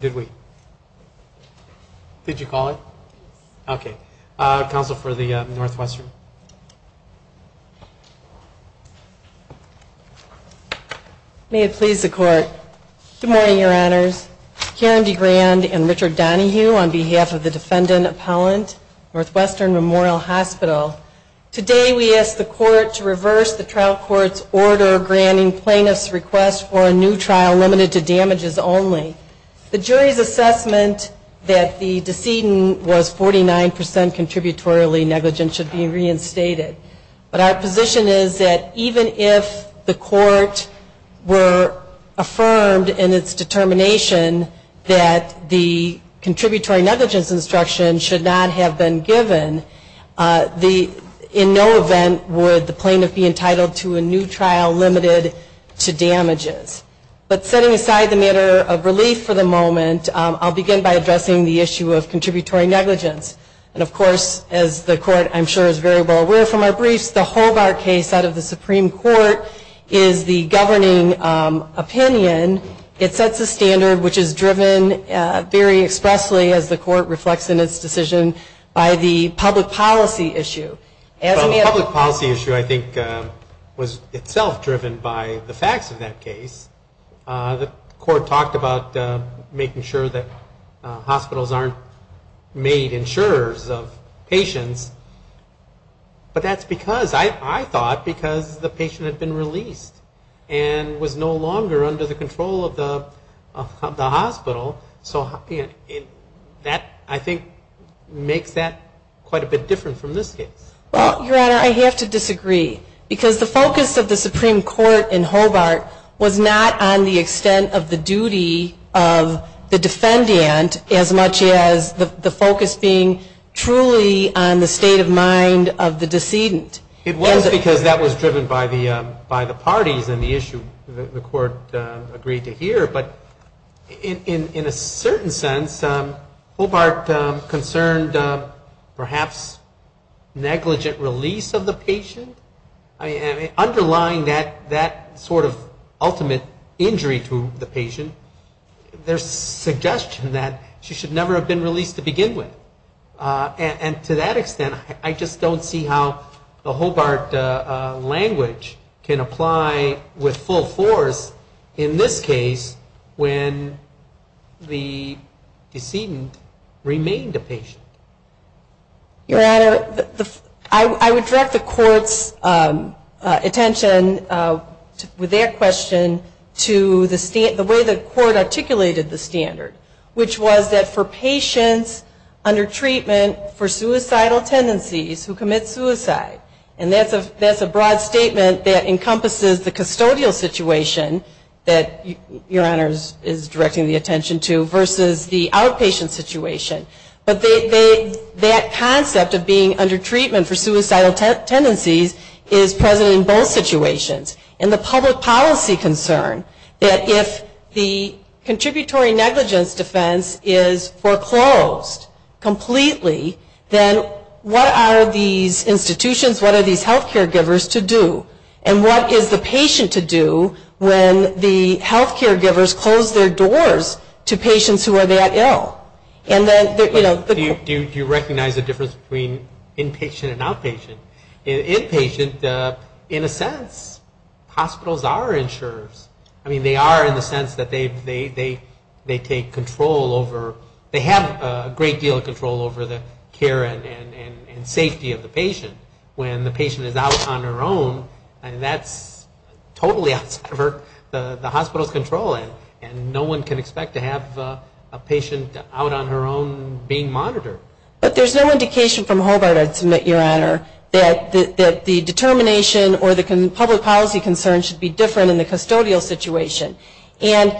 Did we? Did you call it? Okay. Counsel for the Northwestern. May it please the court. Good morning, your honors. Karen DeGrand and Richard Donohue on behalf of the defendant appellant, Northwestern Memorial Hospital. Today we ask the court to reverse the trial court's order granting plaintiffs' request for a new trial limited to damages only. The jury's assessment that the decedent was 49% contributorily negligent should be reinstated. But our position is that even if the court were affirmed in its determination that the contributory negligence instruction should not have been given, in no event would the plaintiff be entitled to a new trial limited to damages. But setting aside the matter of relief for the moment, I'll begin by addressing the issue of contributory negligence. And of course, as the court, I'm sure, is very well aware from our briefs, the whole of our case out of the Supreme Court is the governing opinion. It sets a standard which is driven very expressly, as the court reflects in its decision, by the public policy issue. The public policy issue, I think, was itself driven by the facts of that case. The court talked about making sure that hospitals aren't made insurers of patients. But that's because, I thought, because the patient had been released and was no longer under the control of the Well, Your Honor, I have to disagree. Because the focus of the Supreme Court in Hobart was not on the extent of the duty of the defendant as much as the focus being truly on the state of mind of the decedent. It was because that was driven by the parties and the issue that the court agreed to hear. But in a certain sense, Hobart concerned perhaps negligent release of the patient. Underlying that sort of ultimate injury to the patient, there's suggestion that she should never have been released to begin with. And to that extent, I just don't see how the Hobart language can apply with full force in this case when the decedent remained a patient. Your Honor, I would direct the court's attention with that question to the way the court articulated the standard, which was that for patients under treatment for suicidal tendencies who encompasses the custodial situation that Your Honor is directing the attention to versus the outpatient situation. But that concept of being under treatment for suicidal tendencies is present in both situations. And the public policy concern that if the contributory negligence defense is foreclosed completely, then what are these institutions, what are these healthcare givers to do? And what is the patient to do when the healthcare givers close their doors to patients who are that ill? Do you recognize the difference between inpatient and outpatient? Inpatient, in a sense, hospitals are insurers. I mean, they are in the sense that they take control over, they have a great deal of control over the care and safety of the patient. When the patient is out on her own, that's totally outside of the hospital's control. And no one can expect to have a patient out on her own being monitored. But there's no indication from Hobart, I'd submit, Your Honor, that the determination or the public policy concern should be different in the custodial situation. And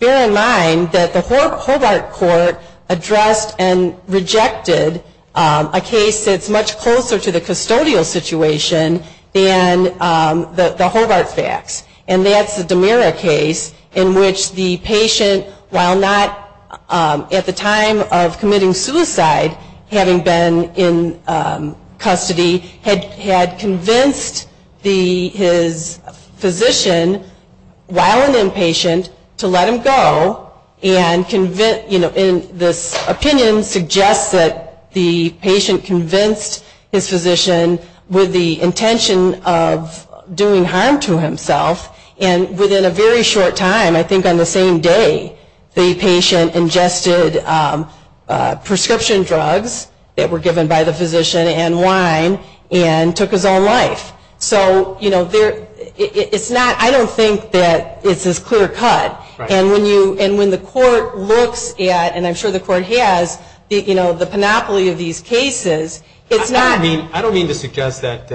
bear in mind that the Hobart case has been rejected, a case that's much closer to the custodial situation than the Hobart facts. And that's the DiMera case in which the patient, while not at the time of committing suicide, having been in custody, had convinced his physician, while an inpatient, to let him go and convince, this opinion suggests that the patient convinced his physician with the intention of doing harm to himself. And within a very short time, I think on the same day, the patient ingested prescription drugs that were given by the physician and wine and took his own life. So, you know, it's not, I don't think that it's as clear cut. And when you, and when the court looks at, and I'm sure the court has, you know, the panoply of these cases, it's not I don't mean to suggest that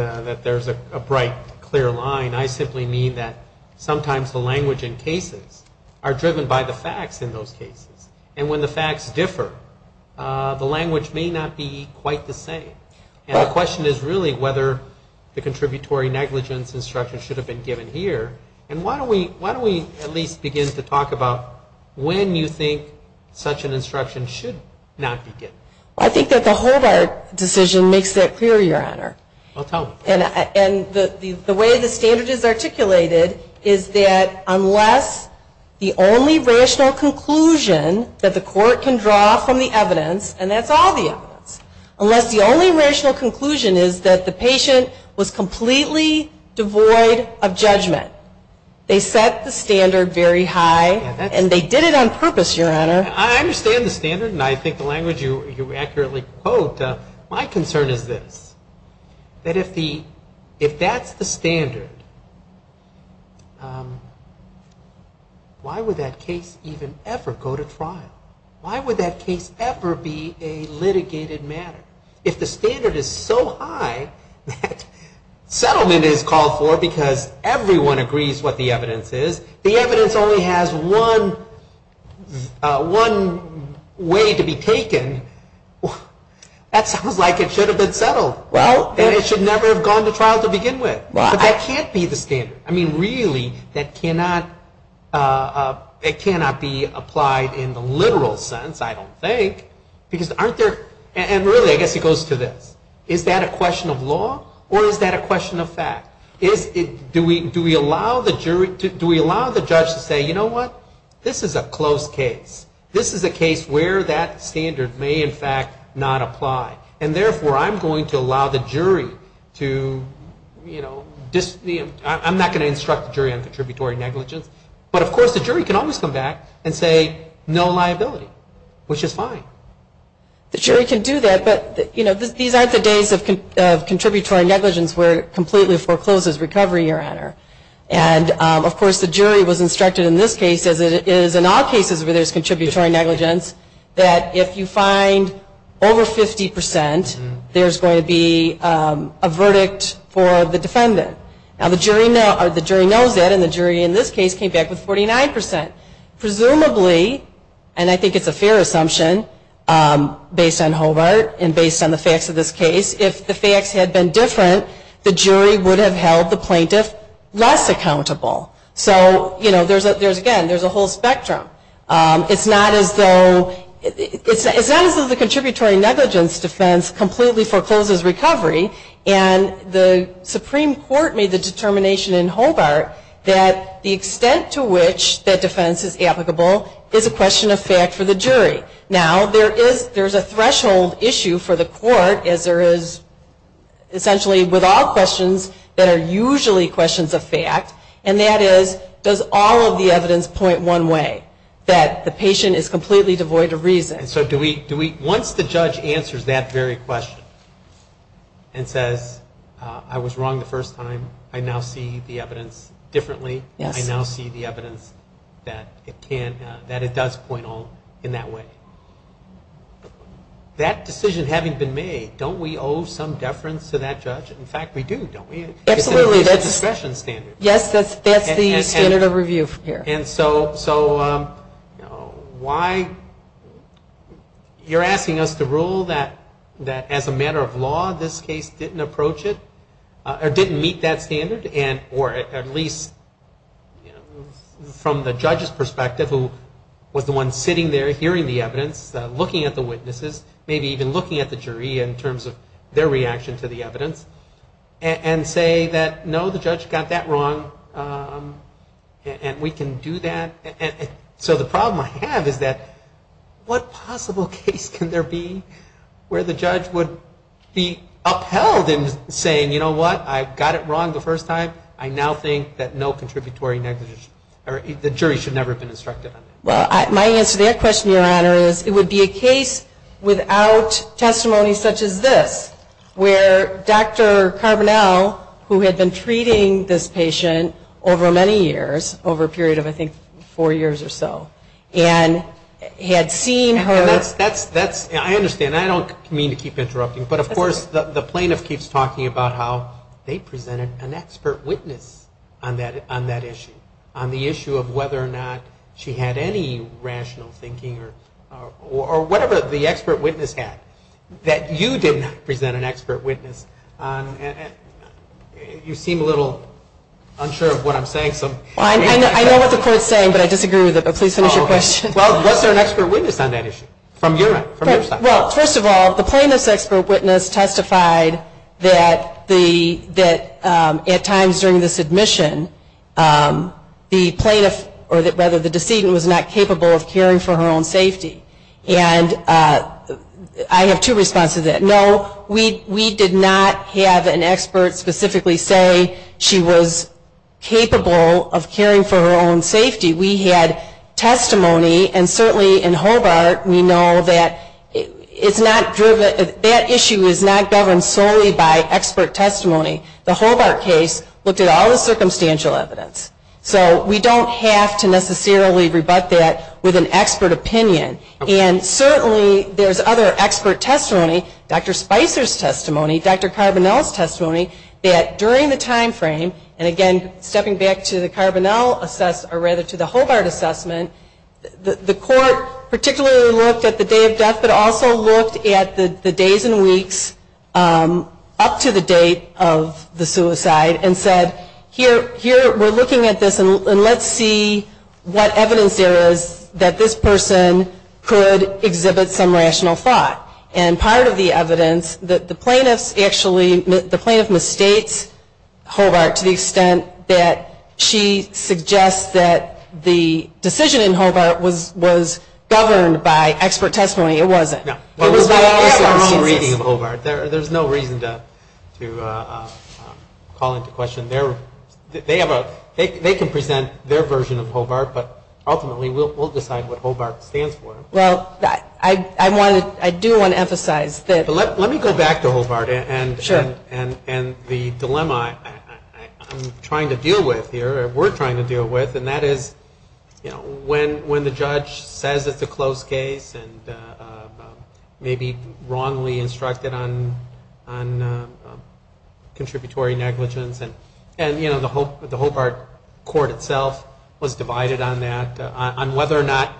there's a bright, clear line. I simply mean that sometimes the language in cases are driven by the facts in those cases. And when the facts differ, the language may not be quite the same. And the question is really whether the contributory negligence instruction should have been given here. And why don't we at least begin to talk about when you think such an instruction should not be given? I think that the Hobart decision makes that clear, Your Honor. Well, tell me. And the way the standard is articulated is that unless the only rational conclusion that the court can draw from the evidence, and that's all the evidence, unless the only rational conclusion is that the patient was completely devoid of judgment, they set the standard very high, and they did it on purpose, Your Honor. I understand the standard, and I think the language you accurately quote. My concern is this. That if the, if the standard is so high, why would that case even ever go to trial? Why would that case ever be a litigated matter? If the standard is so high that settlement is called for because everyone agrees what the evidence is, the evidence only has one, one way to be taken, that sounds like it should have been settled. Well. And it should never have gone to trial to begin with. Right. But that can't be the standard. I mean, really, that cannot, it cannot be applied in the literal sense, I don't think, because aren't there, and really, I guess it goes to this. Is that a question of law, or is that a question of fact? Do we allow the jury, do we allow the judge to say, you know what, this is a close case. This is a case where that standard may, in fact, not apply. And therefore, I'm going to allow the jury to, you know, I'm not going to instruct the jury on contributory negligence, but of course the jury can always come back and say no liability, which is fine. The jury can do that, but you know, these aren't the days of contributory negligence where it completely forecloses recovery, Your Honor. And of course the jury was instructed in this case, as it is in all cases where there's contributory negligence, that if you find over 50 percent, there's going to be a verdict for the defendant. Now the jury knows that, and the jury in this case came back with 49 percent. Presumably, and I think it's a fair assumption, based on Hobart and based on the facts of this case, if the facts had been different, the jury would have held the plaintiff less accountable. So, you know, there's again, there's a whole spectrum. It's not as though, it's not as though the contributory negligence defense completely forecloses recovery, and the Supreme Court made the determination in Hobart that the extent to which that defense is applicable is a question of fact for the jury. Now, there is, there's a threshold issue for the court, as there is essentially with all questions that are usually questions of fact, and that is, does all of the evidence point one way? That the patient is completely devoid of reason. And so do we, once the judge answers that very question, and says, I was wrong the first time, I now see the evidence differently, I now see the evidence that it can, that it does point all in that way. That decision having been made, don't we owe some deference to that judge? In fact, we do, don't we? Absolutely. It's a discretion standard. Yes, that's the standard of review here. And so why, you're asking us to rule that as a matter of law, this case didn't approach it, or didn't meet that standard, and, or at least from the judge's perspective, who was the one sitting there hearing the evidence, looking at the witnesses, maybe even looking at the jury in terms of their reaction to the evidence, and say that, no, the judge got that wrong, and we can do that. And so the problem I have is that what possible case can there be where the judge would be upheld in saying, you know what, I got it wrong the first time, I now think that no contributory negligence, or the jury should never have been instructed on it. Well, my answer to that question, Your Honor, is it would be a case without testimony such as this, where Dr. Carbonell, who had been treating this patient over many years, over a period of I think four years or so, and had seen her. And that's, that's, I understand, I don't mean to keep interrupting, but of course the plaintiff keeps talking about how they presented an expert witness on that issue, on the issue of whether or not she had any rational thinking, or whatever the expert witness had, that you did not present an expert witness on, you seem a little unsure of what I'm saying. I know what the court is saying, but I disagree with it, but please finish your question. Well, was there an expert witness on that issue, from your side? Well, first of all, the plaintiff's expert witness testified that at times during the submission, the plaintiff, or rather the decedent, was not capable of caring for her own safety, and I have two responses to that. No, we did not have an expert specifically say she was capable of caring for her own safety. We had testimony, and certainly in Hobart, we know that it's not driven, that issue is not governed solely by expert testimony. The Hobart case looked at all the circumstantial evidence. So we don't have to necessarily rebut that with an expert opinion. And certainly there's other expert testimony, Dr. Spicer's testimony, Dr. Carbonell's testimony, that during the timeframe, and again, stepping back to the Carbonell assessment, or rather to the Hobart assessment, the court particularly looked at the day of death, but also looked at the days and weeks up to the date of the suicide, and said, here, we're looking at this, and let's see what evidence there is that this person could exhibit some rational thought. And part of the evidence, the plaintiff mistakes Hobart to the extent that she suggests that the decision in Hobart was governed by expert testimony. It wasn't. There's no reason to call into question, they can present their version of Hobart, but ultimately we'll decide what Hobart stands for. Well, I do want to emphasize that. Let me go back to Hobart and the dilemma I'm trying to deal with here, or we're trying to deal with, and that is, you know, when the judge says it's a close case, and maybe wrongly instructed on contributory negligence, and, you know, the Hobart court itself was divided on that, on whether or not,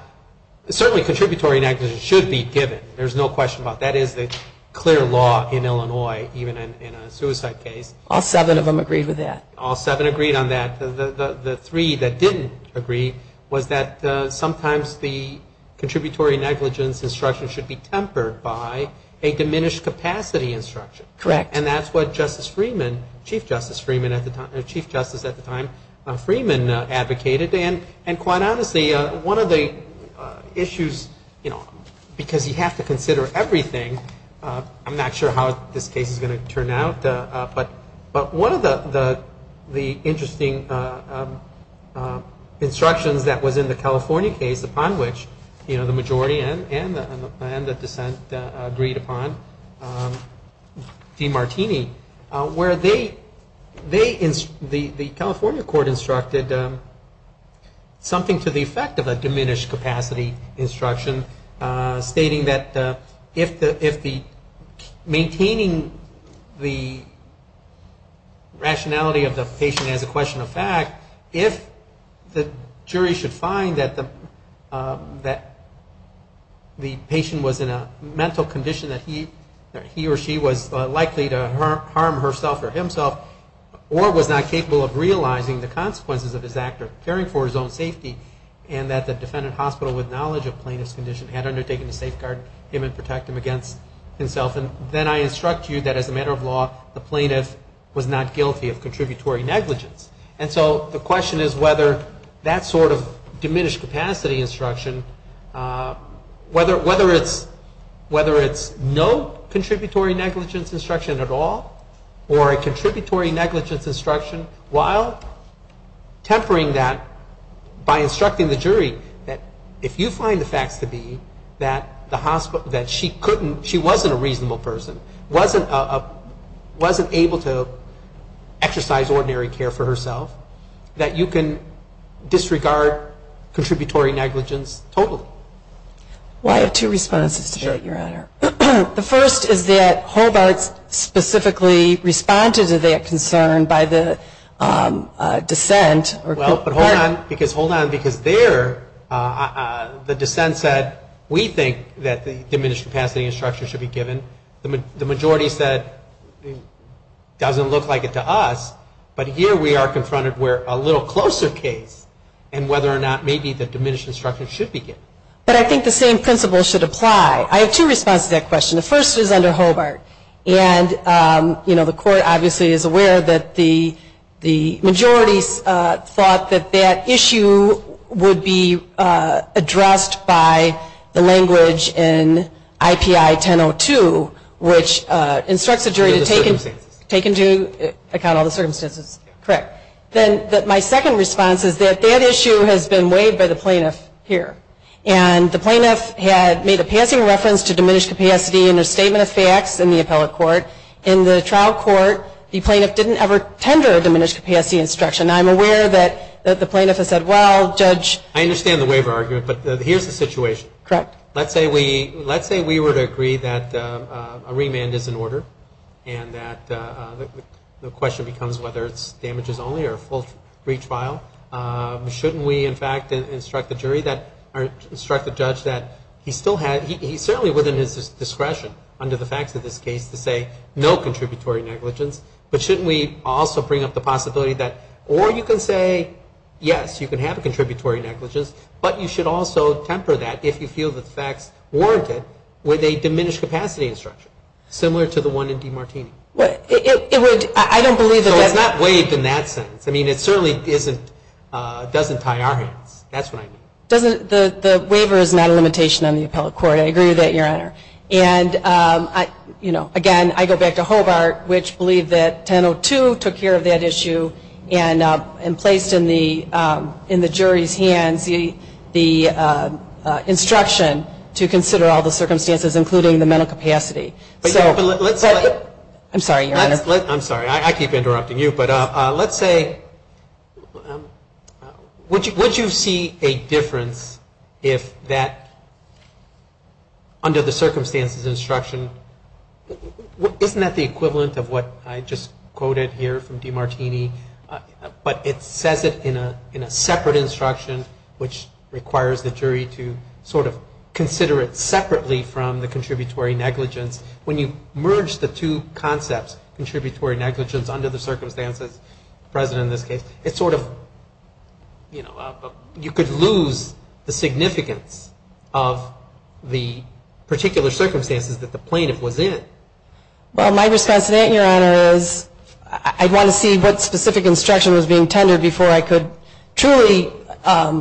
certainly contributory negligence, should be given. There's no question about that. That is the clear law in Illinois, even in a suicide case. All seven of them agreed with that. All seven agreed on that. The three that didn't agree was that sometimes the contributory negligence instruction should be tempered by a diminished capacity instruction. Correct. And that's what Justice Freeman, Chief Justice Freeman at the time, Chief Justice at the time, Freeman advocated. And quite honestly, one of the issues, you know, because you have to consider everything, I'm not sure how this case is going to turn out, but one of the interesting instructions that was in the California case upon which, you know, the majority and the dissent agreed upon, demarcated by Martini, where they, the California court instructed something to the effect of a diminished capacity instruction, stating that if the, maintaining the rationality of the patient as a question of fact, if the jury should find that the patient was in a mental condition that he or she was likely to, you know, harm herself or himself, or was not capable of realizing the consequences of his act of caring for his own safety, and that the defendant hospital with knowledge of plaintiff's condition had undertaken to safeguard him and protect him against himself, then I instruct you that as a matter of law, the plaintiff was not guilty of contributory negligence. And so the question is whether that sort of diminished capacity instruction, whether it's no contributory negligence instruction at all, or a contributory negligence instruction while tempering that by instructing the jury that if you find the facts to be that the hospital, that she couldn't, she wasn't a reasonable person, wasn't able to exercise ordinary care for herself, that you can disregard contributory negligence totally. I have two responses to that, your honor. The first is that Hobart specifically responded to that concern by the dissent. Well, but hold on, because there the dissent said we think that the diminished capacity instruction should be given. The majority said it doesn't look like it to us, but here we are confronted where a little closer case, and whether or not maybe the diminished instruction should be given. But I think the same principle should apply. I have two responses to that question. The first is under Hobart, and, you know, the court obviously is aware that the majority thought that that issue would be addressed by the language in IPI 1002, which instructs the jury to take into account all the circumstances. Then my second response is that that issue has been waived by the plaintiff here. And the plaintiff had made a passing reference to diminished capacity in her statement of facts in the appellate court. In the trial court, the plaintiff didn't ever tender a diminished capacity instruction. I'm aware that the plaintiff has said, well, judge. I understand the waiver argument, but here's the situation. Correct. Let's say we were to agree that a remand is in order and that the question becomes whether it's damages only or a full retrial. Shouldn't we, in fact, instruct the judge that he still has he's certainly within his discretion under the facts of this case to say no contributory negligence, but shouldn't we also bring up the possibility that or you can say, yes, you can have a contributory negligence, but you should also temper that if you feel that the facts warrant it with a diminished capacity instruction, similar to the one in DeMartini. So it's not waived in that sense. I mean, it certainly doesn't tie our hands. The waiver is not a limitation on the appellate court. I agree with that, Your Honor. And again, I go back to Hobart, which believed that 1002 took care of that issue and placed in the jury's hands the instruction to consider all the circumstances, including the mental capacity. I'm sorry, Your Honor. I'm sorry, I keep interrupting you, but let's say would you see a difference if that under the circumstances instruction, isn't that the equivalent of what I just quoted here from DeMartini, but it says it in a separate instruction, which requires the jury to sort of consider it separately from the plaintiff's case. I mean, you could lose the significance of the particular circumstances that the plaintiff was in. Well, my response to that, Your Honor, is I'd want to see what specific instruction was being tendered before I could truly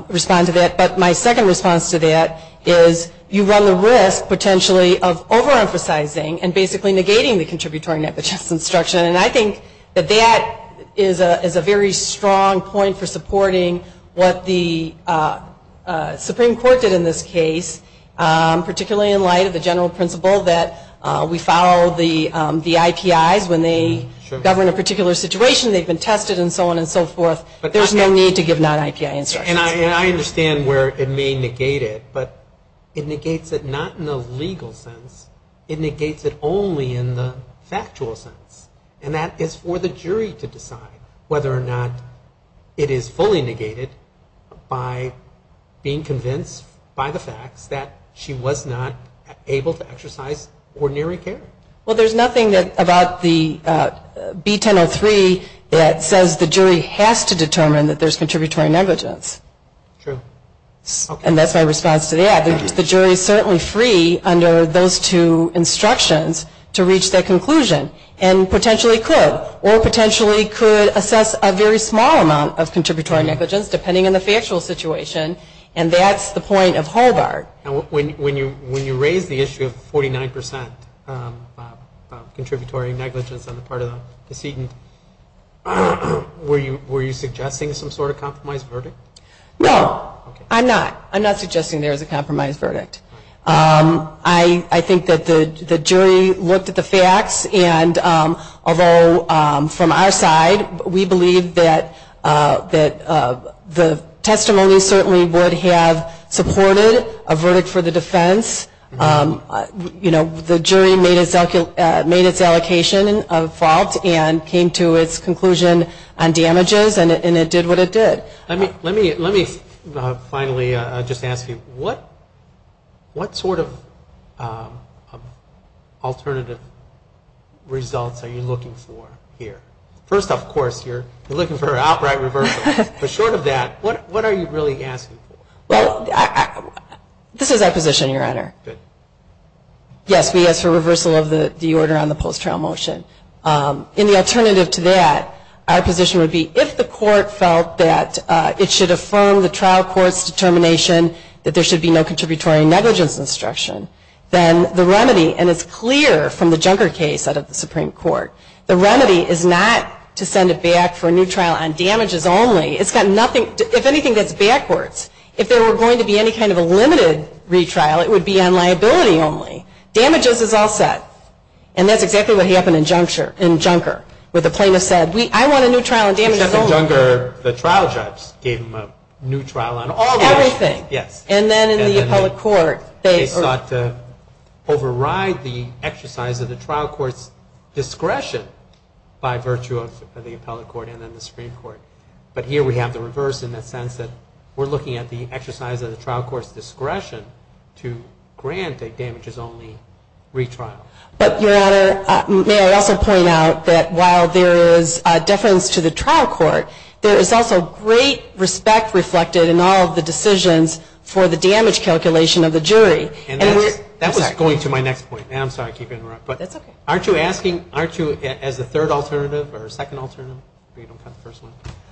respond to that. But my second response to that is you run the risk, potentially, of overemphasizing and basically negating the contributory negligence. And I think that that is a very strong point for supporting what the Supreme Court did in this case, particularly in light of the general principle that we follow the IPIs when they govern a particular situation, they've been tested and so on and so forth. There's no need to give non-IPI instructions. And I understand where it may negate it, but it negates it not in a legal sense. It negates it only in the factual sense. I mean, it's not a legal sense. And that is for the jury to decide whether or not it is fully negated by being convinced by the facts that she was not able to exercise ordinary care. Well, there's nothing about the B1003 that says the jury has to determine that there's contributory negligence. True. And that's my response to that. The jury is certainly free under those two instructions to reach that conclusion and potentially could or potentially could assess a very small amount of contributory negligence, depending on the factual situation. And that's the point of Hallgard. And when you raise the issue of 49 percent contributory negligence on the part of the decedent, were you suggesting some sort of compromised verdict? No, I'm not. I'm not suggesting there's a compromised verdict. I think that the jury looked at the facts, and although from our side, we believe that the testimony certainly would have supported a verdict for the defense. You know, the jury made its allocation of fault and came to its conclusion on its own. Let me finally just ask you, what sort of alternative results are you looking for here? First, of course, you're looking for an outright reversal. But short of that, what are you really asking for? Well, this is our position, Your Honor. Good. Yes, we ask for reversal of the order on the post-trial motion. And the alternative to that, our position would be, if the court felt that it should affirm the trial court's determination that there should be no contributory negligence instruction, then the remedy, and it's clear from the Junker case out of the Supreme Court, the remedy is not to send it back for a new trial on damages only. It's got nothing, if anything, that's backwards. If there were going to be any kind of a limited retrial, it would be on liability only. Damages is all set. And that's exactly what happened in Junker, where the plaintiff said, I want a new trial on damages only. Except in Junker, the trial judge gave them a new trial on all damages. Everything. Yes. And then in the appellate court, they sought to override the exercise of the trial court's discretion by virtue of the appellate court and then the Supreme Court. But here we have the reverse in the sense that we're looking at the exercise of the trial court's discretion to grant a damages-only retrial. But, Your Honor, may I also point out that while there is a difference to the trial court's discretion to grant a damages-only retrial, the appellate court, there is also great respect reflected in all of the decisions for the damage calculation of the jury. And that was going to my next point. I'm sorry to keep interrupting. That's okay. Aren't you asking, aren't you, as a third alternative or a second alternative,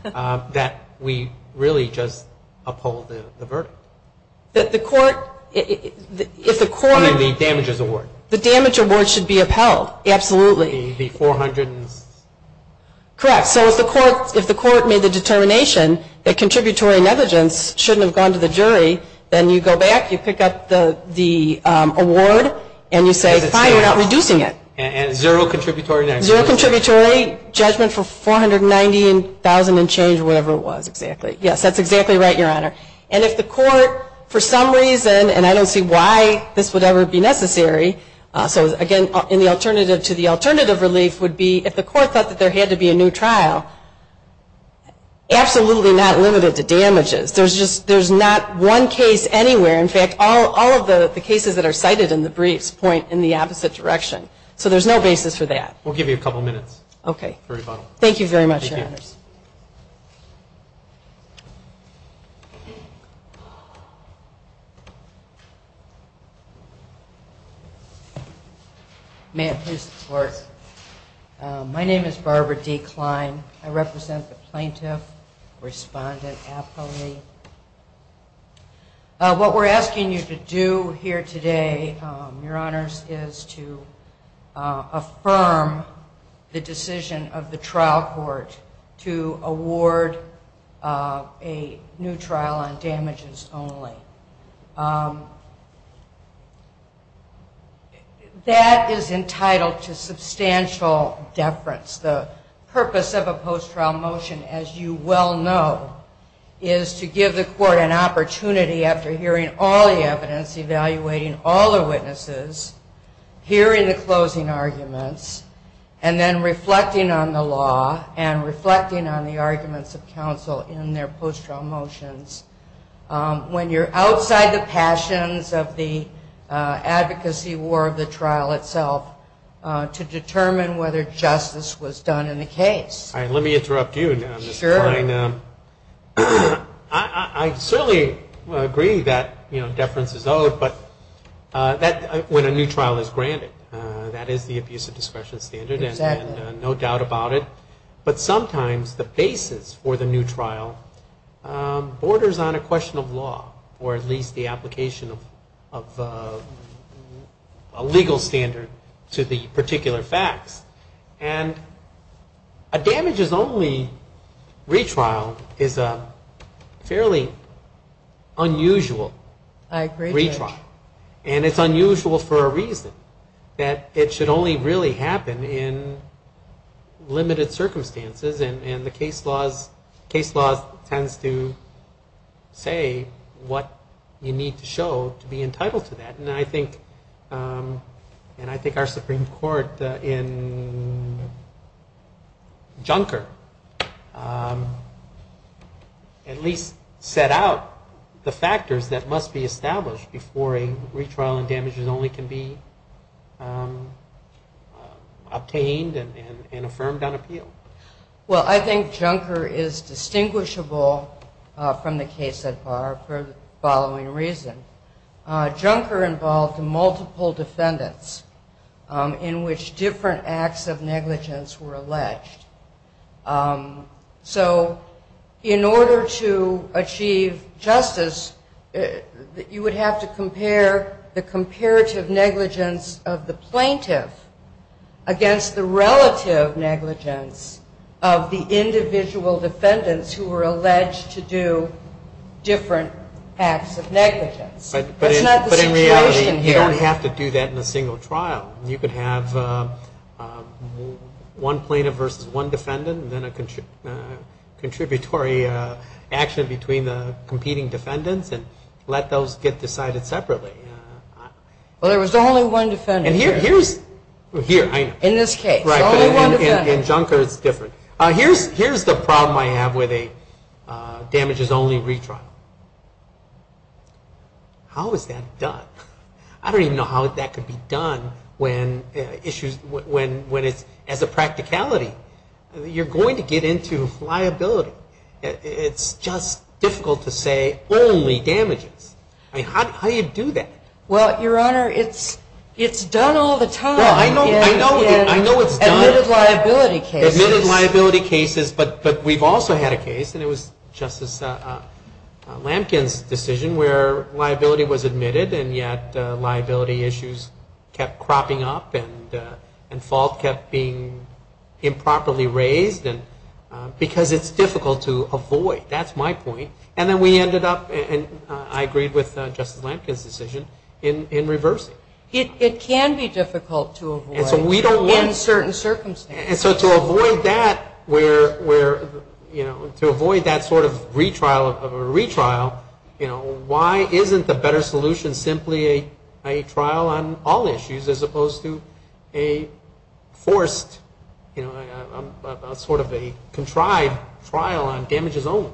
that we really just uphold the verdict? That the court, if the court I mean the damages award. The damage award should be upheld. Absolutely. The $400,000. Correct. So if the court made the determination that contributory negligence shouldn't have gone to the jury, then you go back, you pick up the award, and you say, fine, we're not reducing it. And zero contributory negligence. Zero contributory, judgment for $490,000 and change, whatever it was, exactly. Yes, that's exactly right, Your Honor. And if the court, for some reason, and I don't see why this would ever be necessary, so again, in the alternative to the alternative, relief would be, if the court thought that there had to be a new trial, absolutely not limited to damages. There's just, there's not one case anywhere. In fact, all of the cases that are cited in the briefs point in the opposite direction. So there's no basis for that. We'll give you a couple minutes for rebuttal. Okay. Thank you very much, Your Honors. May it please the Court. My name is Barbara D. Kline. I represent the plaintiff, respondent, appellee. What we're asking you to do here today, Your Honors, is to affirm the decision of the trial court to reduce the amount of damages and to award a new trial on damages only. That is entitled to substantial deference. The purpose of a post-trial motion, as you well know, is to give the court an opportunity after hearing all the evidence, evaluating all the witnesses, hearing the closing arguments, and then reflecting on the law and reflecting on the evidence. Reflecting on the arguments of counsel in their post-trial motions when you're outside the passions of the advocacy war of the trial itself to determine whether justice was done in the case. All right. Let me interrupt you now, Ms. Kline. Sure. I certainly agree that, you know, deference is owed, but that, when a new trial is granted, that is the abuse of discretion standard. Exactly. And no doubt about it. But sometimes the basis for the new trial borders on a question of law, or at least the application of a legal standard to the particular facts. And a damages only retrial is a fairly unusual retrial. I agree. And it's unusual for a reason, that it should only really happen in limited circumstances. And the case laws tends to say what you need to show to be entitled to that. And I think our Supreme Court in Junker, at least, set out the factors that must be established in order to determine whether before a retrial and damages only can be obtained and affirmed on appeal. Well, I think Junker is distinguishable from the case so far for the following reason. Junker involved multiple defendants in which different acts of negligence were alleged. So in order to achieve justice, you would have to come to a conclusion that the defendants were guilty. You would have to compare the comparative negligence of the plaintiff against the relative negligence of the individual defendants who were alleged to do different acts of negligence. That's not the situation here. But in reality, you don't have to do that in a single trial. You could have one plaintiff versus one defendant and then a contributory action between the competing defendants and let those get decided separately. Well, there was only one defendant here. And Junker is different. Here's the problem I have with a damages only retrial. How is that done? I don't even know how that could be done as a practicality. You're going to get into liability. It's just difficult to say only damages. I mean, how do you do that? Well, Your Honor, it's done all the time. I know it's done. Admitted liability cases. But we've also had a case and it was Justice Lampkin's decision where liability was admitted and yet liability issues kept cropping up and fault kept being improperly raised because it's difficult to avoid. That's my point. And then we ended up and I agreed with Justice Lampkin's decision in reversing. It can be difficult to avoid in certain circumstances. And so to avoid that sort of retrial, why isn't the better solution simply a trial on all issues as opposed to a forced, sort of a contrived trial on damages only?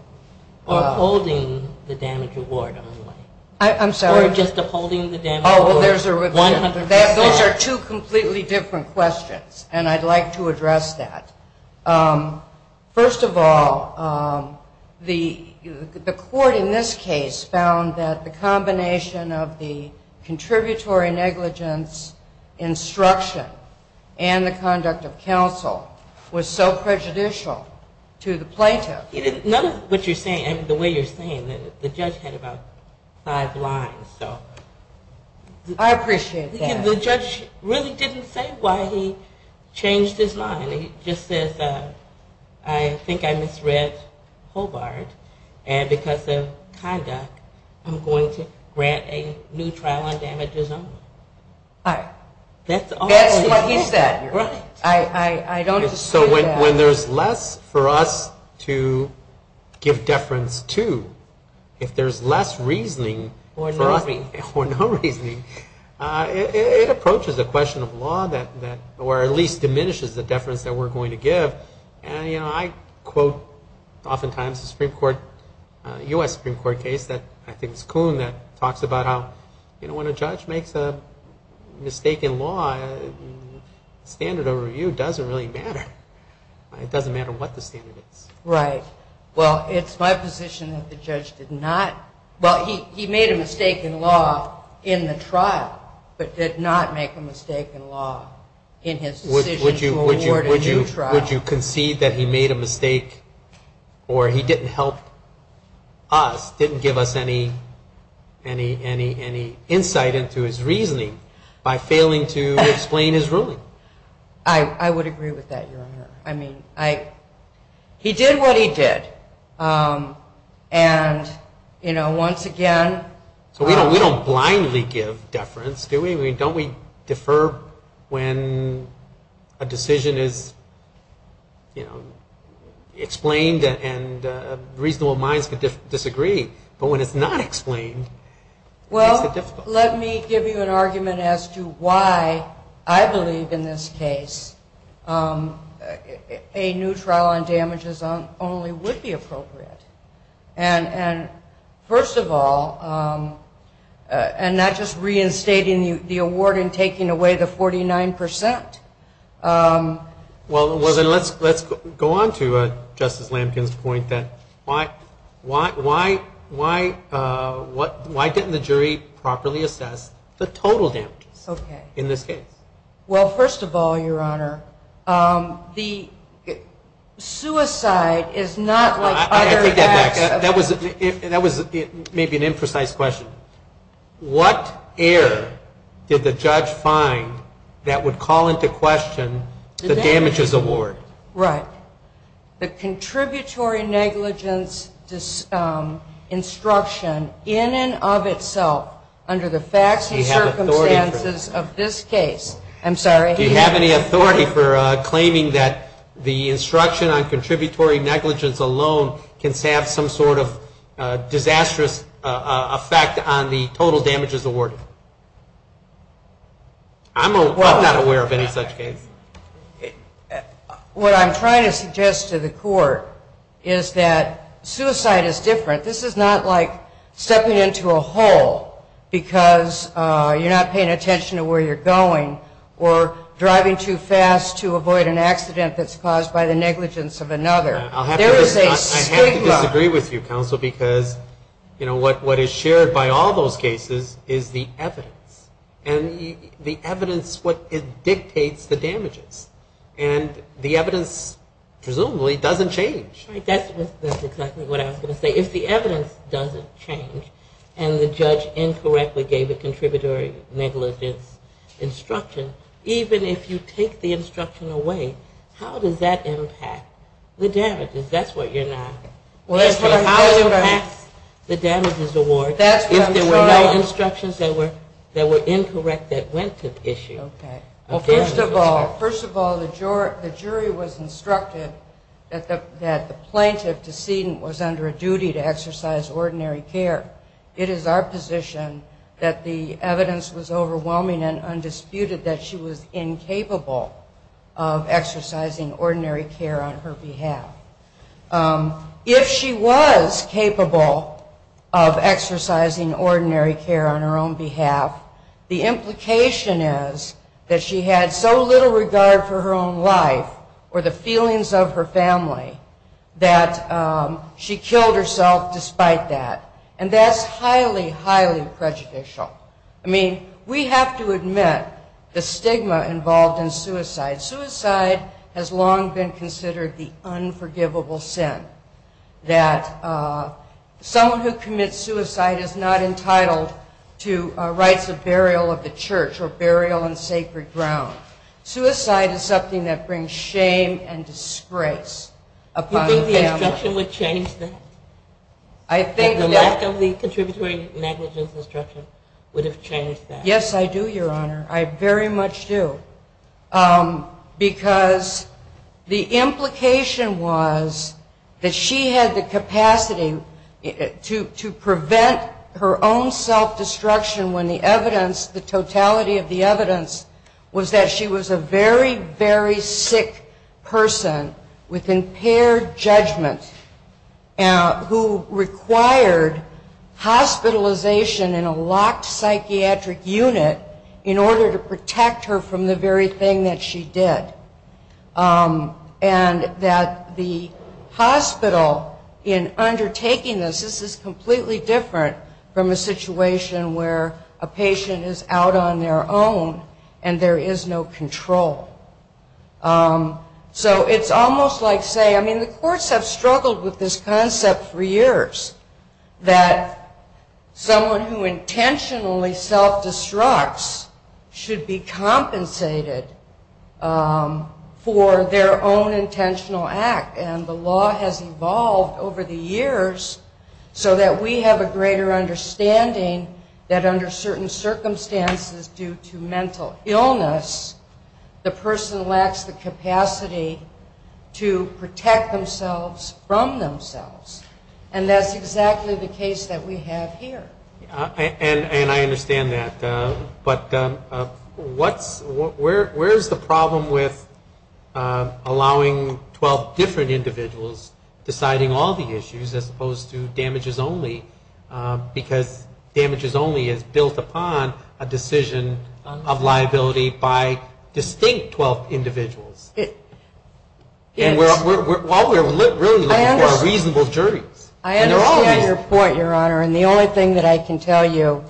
Or upholding the damage award only? Or just upholding the damage award 100%? Those are two completely different questions and I'd like to address that. First of all, the court in this case found that the combination of the contributory negligence instruction and the conduct of counsel was so prejudicial to the plaintiff. None of what you're saying, the way you're saying it, the judge had about five lines. I appreciate that. The judge really didn't say why he changed his line. He just says I think I misread Hobart and because of conduct I'm going to grant a new trial on damages only. That's what he said. So when there's less for us to give deference to, if there's less reasoning for no reasoning, it approaches a question of law that or at least diminishes the deference that we're going to give. And I quote oftentimes the Supreme Court, U.S. Supreme Court case, I think it's Kuhn that talks about how when a judge makes a mistake in law, standard overview doesn't really matter. It doesn't matter what the standard is. Right. Well, it's my position that the judge did not, well, he made a mistake in law in the trial, but did not make a mistake in law in his decision to award a new trial. Would you concede that he made a mistake or he didn't help us, didn't give us any insight into his reasoning by failing to explain his ruling? I would agree with that, Your Honor. I mean, he did what he did. So we don't blindly give deference, do we? Don't we defer when a decision is, you know, explained and reasonable minds could disagree. But when it's not explained, it's difficult. Well, let me give you an argument as to why I believe in this case a new trial on damages only would be appropriate. And first of all, and not just reinstating the award and taking away the 49 percent. Well, let's go on to Justice Lampkin's point that why didn't the jury properly assess the total damages in this case? Well, first of all, Your Honor, the suicide is not like other acts. That was maybe an imprecise question. What error did the judge find that would call into question the damages award? Right. The contributory negligence instruction in and of itself under the facts and circumstances of this case. Do you have any authority for claiming that the instruction on the total damages award? I'm not aware of any such case. What I'm trying to suggest to the court is that suicide is different. This is not like stepping into a hole because you're not paying attention to where you're going or driving too fast to avoid an accident that's caused by the negligence of another. I have to disagree with you, counsel, because what is shared by all those cases is the evidence. And the evidence is what dictates the damages. And the evidence presumably doesn't change. That's exactly what I was going to say. If the evidence doesn't change and the judge incorrectly gave a contributory negligence instruction, even if you take the instruction away, how does that impact the damages? That's what you're asking. How does it impact the damages award if there were no instructions that were incorrect that went to the issue? First of all, the jury was instructed that the plaintiff decedent was under a duty to exercise ordinary care. It is our position that the evidence was overwhelming and undisputed that she was incapable of exercising ordinary care on her behalf. If she was capable of exercising ordinary care on her own behalf, the implication is that she had so little regard for her own life or the feelings of her family that she killed herself despite that. And that's highly, highly prejudicial. I mean, we have to admit the stigma involved in suicide. Suicide has long been considered the unforgivable sin that someone who commits suicide is not entitled to rights of burial of the church or burial on sacred ground. Suicide is something that brings shame and disgrace upon the family. Do you think the instruction would change that? I think the lack of the contributory negligence instruction would have changed that. Yes, I do, Your Honor. I very much do. Because the implication was that she had the capacity to prevent her own self-destruction when the evidence, the totality of the evidence was that she was a very, very sick person with impaired judgment who required hospitalization in a locked psychiatric unit in order to protect her from the very thing that she did. And that the hospital in undertaking this, this is completely different from a situation where a patient is out on their own and there is no control. So it's almost like saying, I mean, the courts have struggled with this concept for years, that someone who intentionally self-destructs should be compensated for their own intentional act. And the law has evolved over the years so that we have a greater understanding that under certain circumstances due to mental illness, the person lacks the capacity to protect themselves from themselves. And that's exactly the case that we have here. And I understand that. But what's where is the problem with allowing 12 different individuals deciding all the issues as opposed to damages only? Because damages only is built upon a decision of liability by distinct 12 individuals. And while we're really looking for a reasonable jury. I understand your point, Your Honor. And the only thing that I can tell you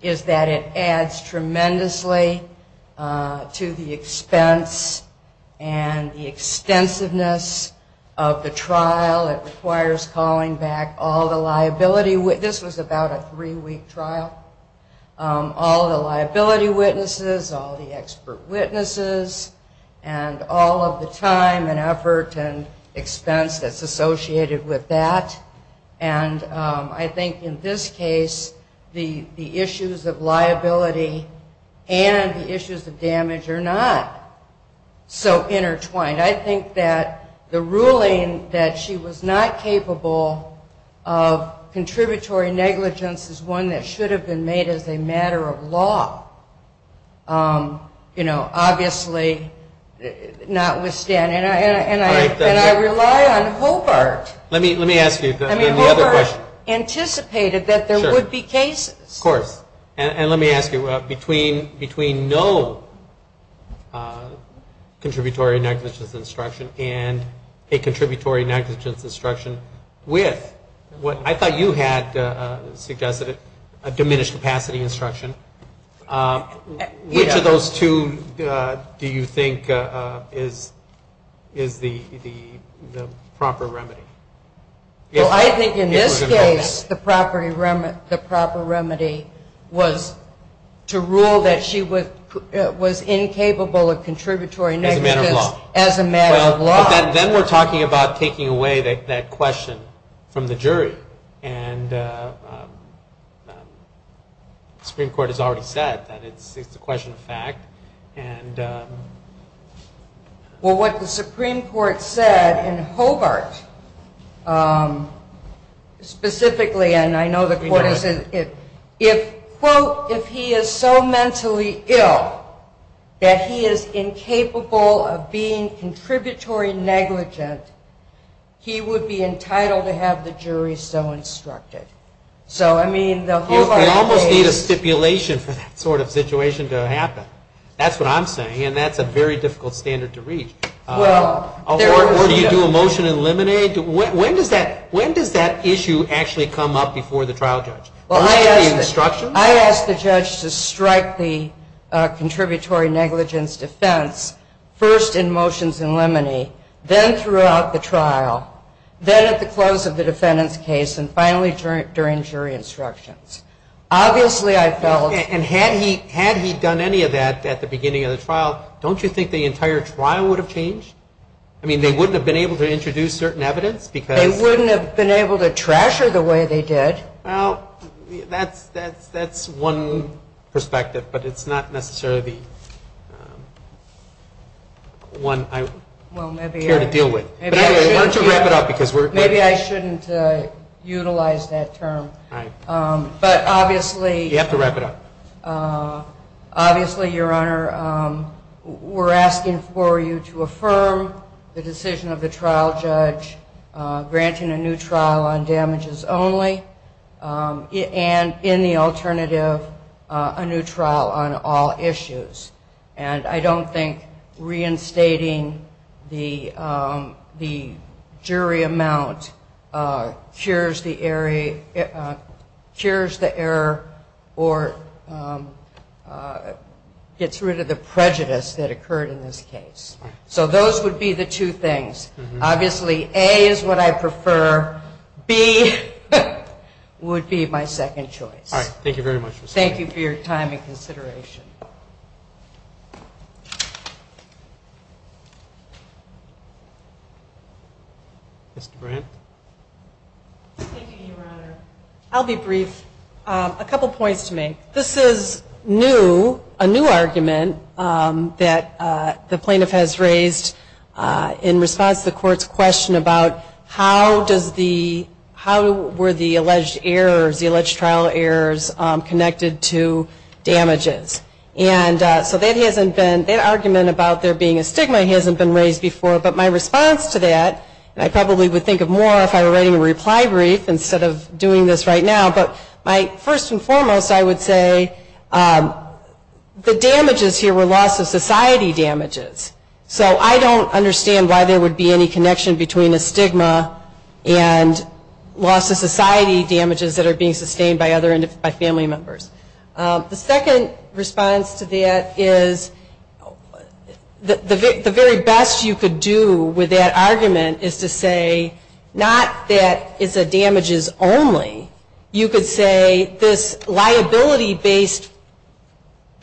is that it adds tremendously to the expense and the extensiveness of the trial. It requires calling back all the liability witnesses. This was about a three week trial. All the liability witnesses, all the expert witness that's associated with that. And I think in this case, the issues of liability and the issues of damage are not so intertwined. I think that the ruling that she was not capable of contributory negligence is one that should have been made as a matter of law. Obviously notwithstanding. And I rely on Hobart. Hobart anticipated that there would be cases. And let me ask you, between no contributory negligence instruction and a contributory negligence instruction with what I thought you had suggested, a diminished capacity instruction, which of those two do you think is the proper remedy? Well, I think in this case the proper remedy was to rule that she was incapable of contributory negligence as a matter of law. Then we're talking about taking away that question from the jury. And the Supreme Court has already said that it's a question of fact. Well, what the Supreme Court said in Hobart specifically, and I know the court isn't, if quote, if he is so contributory negligent, he would be entitled to have the jury so instructed. So, I mean, the Hobart case. You almost need a stipulation for that sort of situation to happen. That's what I'm saying, and that's a very difficult standard to reach. Or do you do a motion and eliminate? When does that issue actually come up before the trial judge? Well, I asked the judge to strike the contributory negligence defense first in motions and limine, then throughout the trial, then at the close of the defendant's case, and finally during jury instructions. Obviously, I felt. And had he done any of that at the beginning of the trial, don't you think the entire trial would have changed? I mean, they wouldn't have been able to introduce certain evidence because. They wouldn't have been able to trash her the way they did. That's one perspective, but it's not necessarily the one I care to deal with. Maybe I shouldn't utilize that term. But obviously. You have to wrap it up. Obviously, Your Honor, we're asking for you to affirm the decision of the trial judge granting a new trial on damages only, and in the alternative, a new trial on all issues. And I don't think reinstating the jury amount cures the error or gets rid of the prejudice that occurred in this case. So those would be the two things. Obviously, A is what I prefer. B would be my second choice. Thank you very much. Thank you for your time and consideration. Mr. Brandt. Thank you, Your Honor. I'll be brief. A couple points to make. This is new, a new argument that the plaintiff has raised in response to the court's question about how does the, how were the alleged errors, the alleged trial errors connected to the stigma. So that hasn't been, that argument about there being a stigma hasn't been raised before. But my response to that, and I probably would think of more if I were writing a reply brief instead of doing this right now. But my first and foremost, I would say the damages here were loss of society damages. So I don't understand why there would be any connection between a stigma and loss of society damages that are being sustained by other, by family members. The second response to that is the very best you could do with that argument is to say not that it's a damages only. You could say this liability based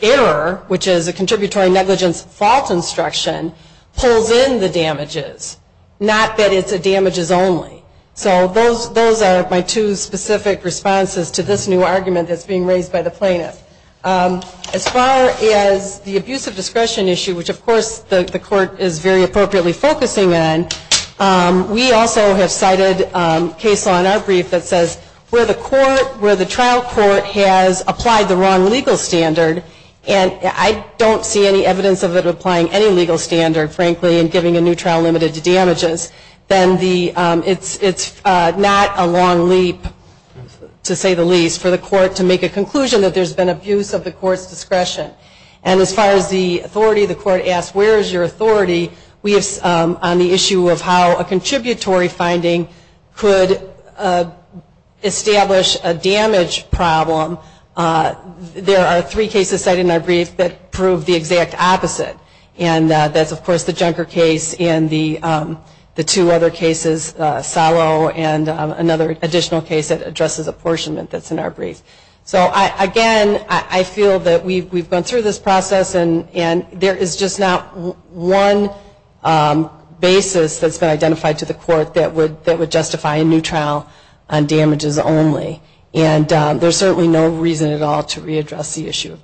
error, which is a stigma, is within the damages, not that it's a damages only. So those are my two specific responses to this new argument that's being raised by the plaintiff. As far as the abuse of discretion issue, which of course the court is very appropriately focusing on, we also have cited case law in our brief that says where the court, where the trial court has applied the wrong legal standard, and I don't see any evidence of it applying any legal standard, frankly, in giving a new trial limited to damages, then it's not a long leap, to say the least, for the court to make a conclusion that there's been abuse of the court's discretion. And as far as the authority, the court asks where is your authority, we have on the problem, there are three cases cited in our brief that prove the exact opposite, and that's of course the Junker case and the two other cases, Salo and another additional case that addresses apportionment that's in our brief. So again, I feel that we've gone through this process and there is just not one basis that's been identified to the court that would address the issue of damages.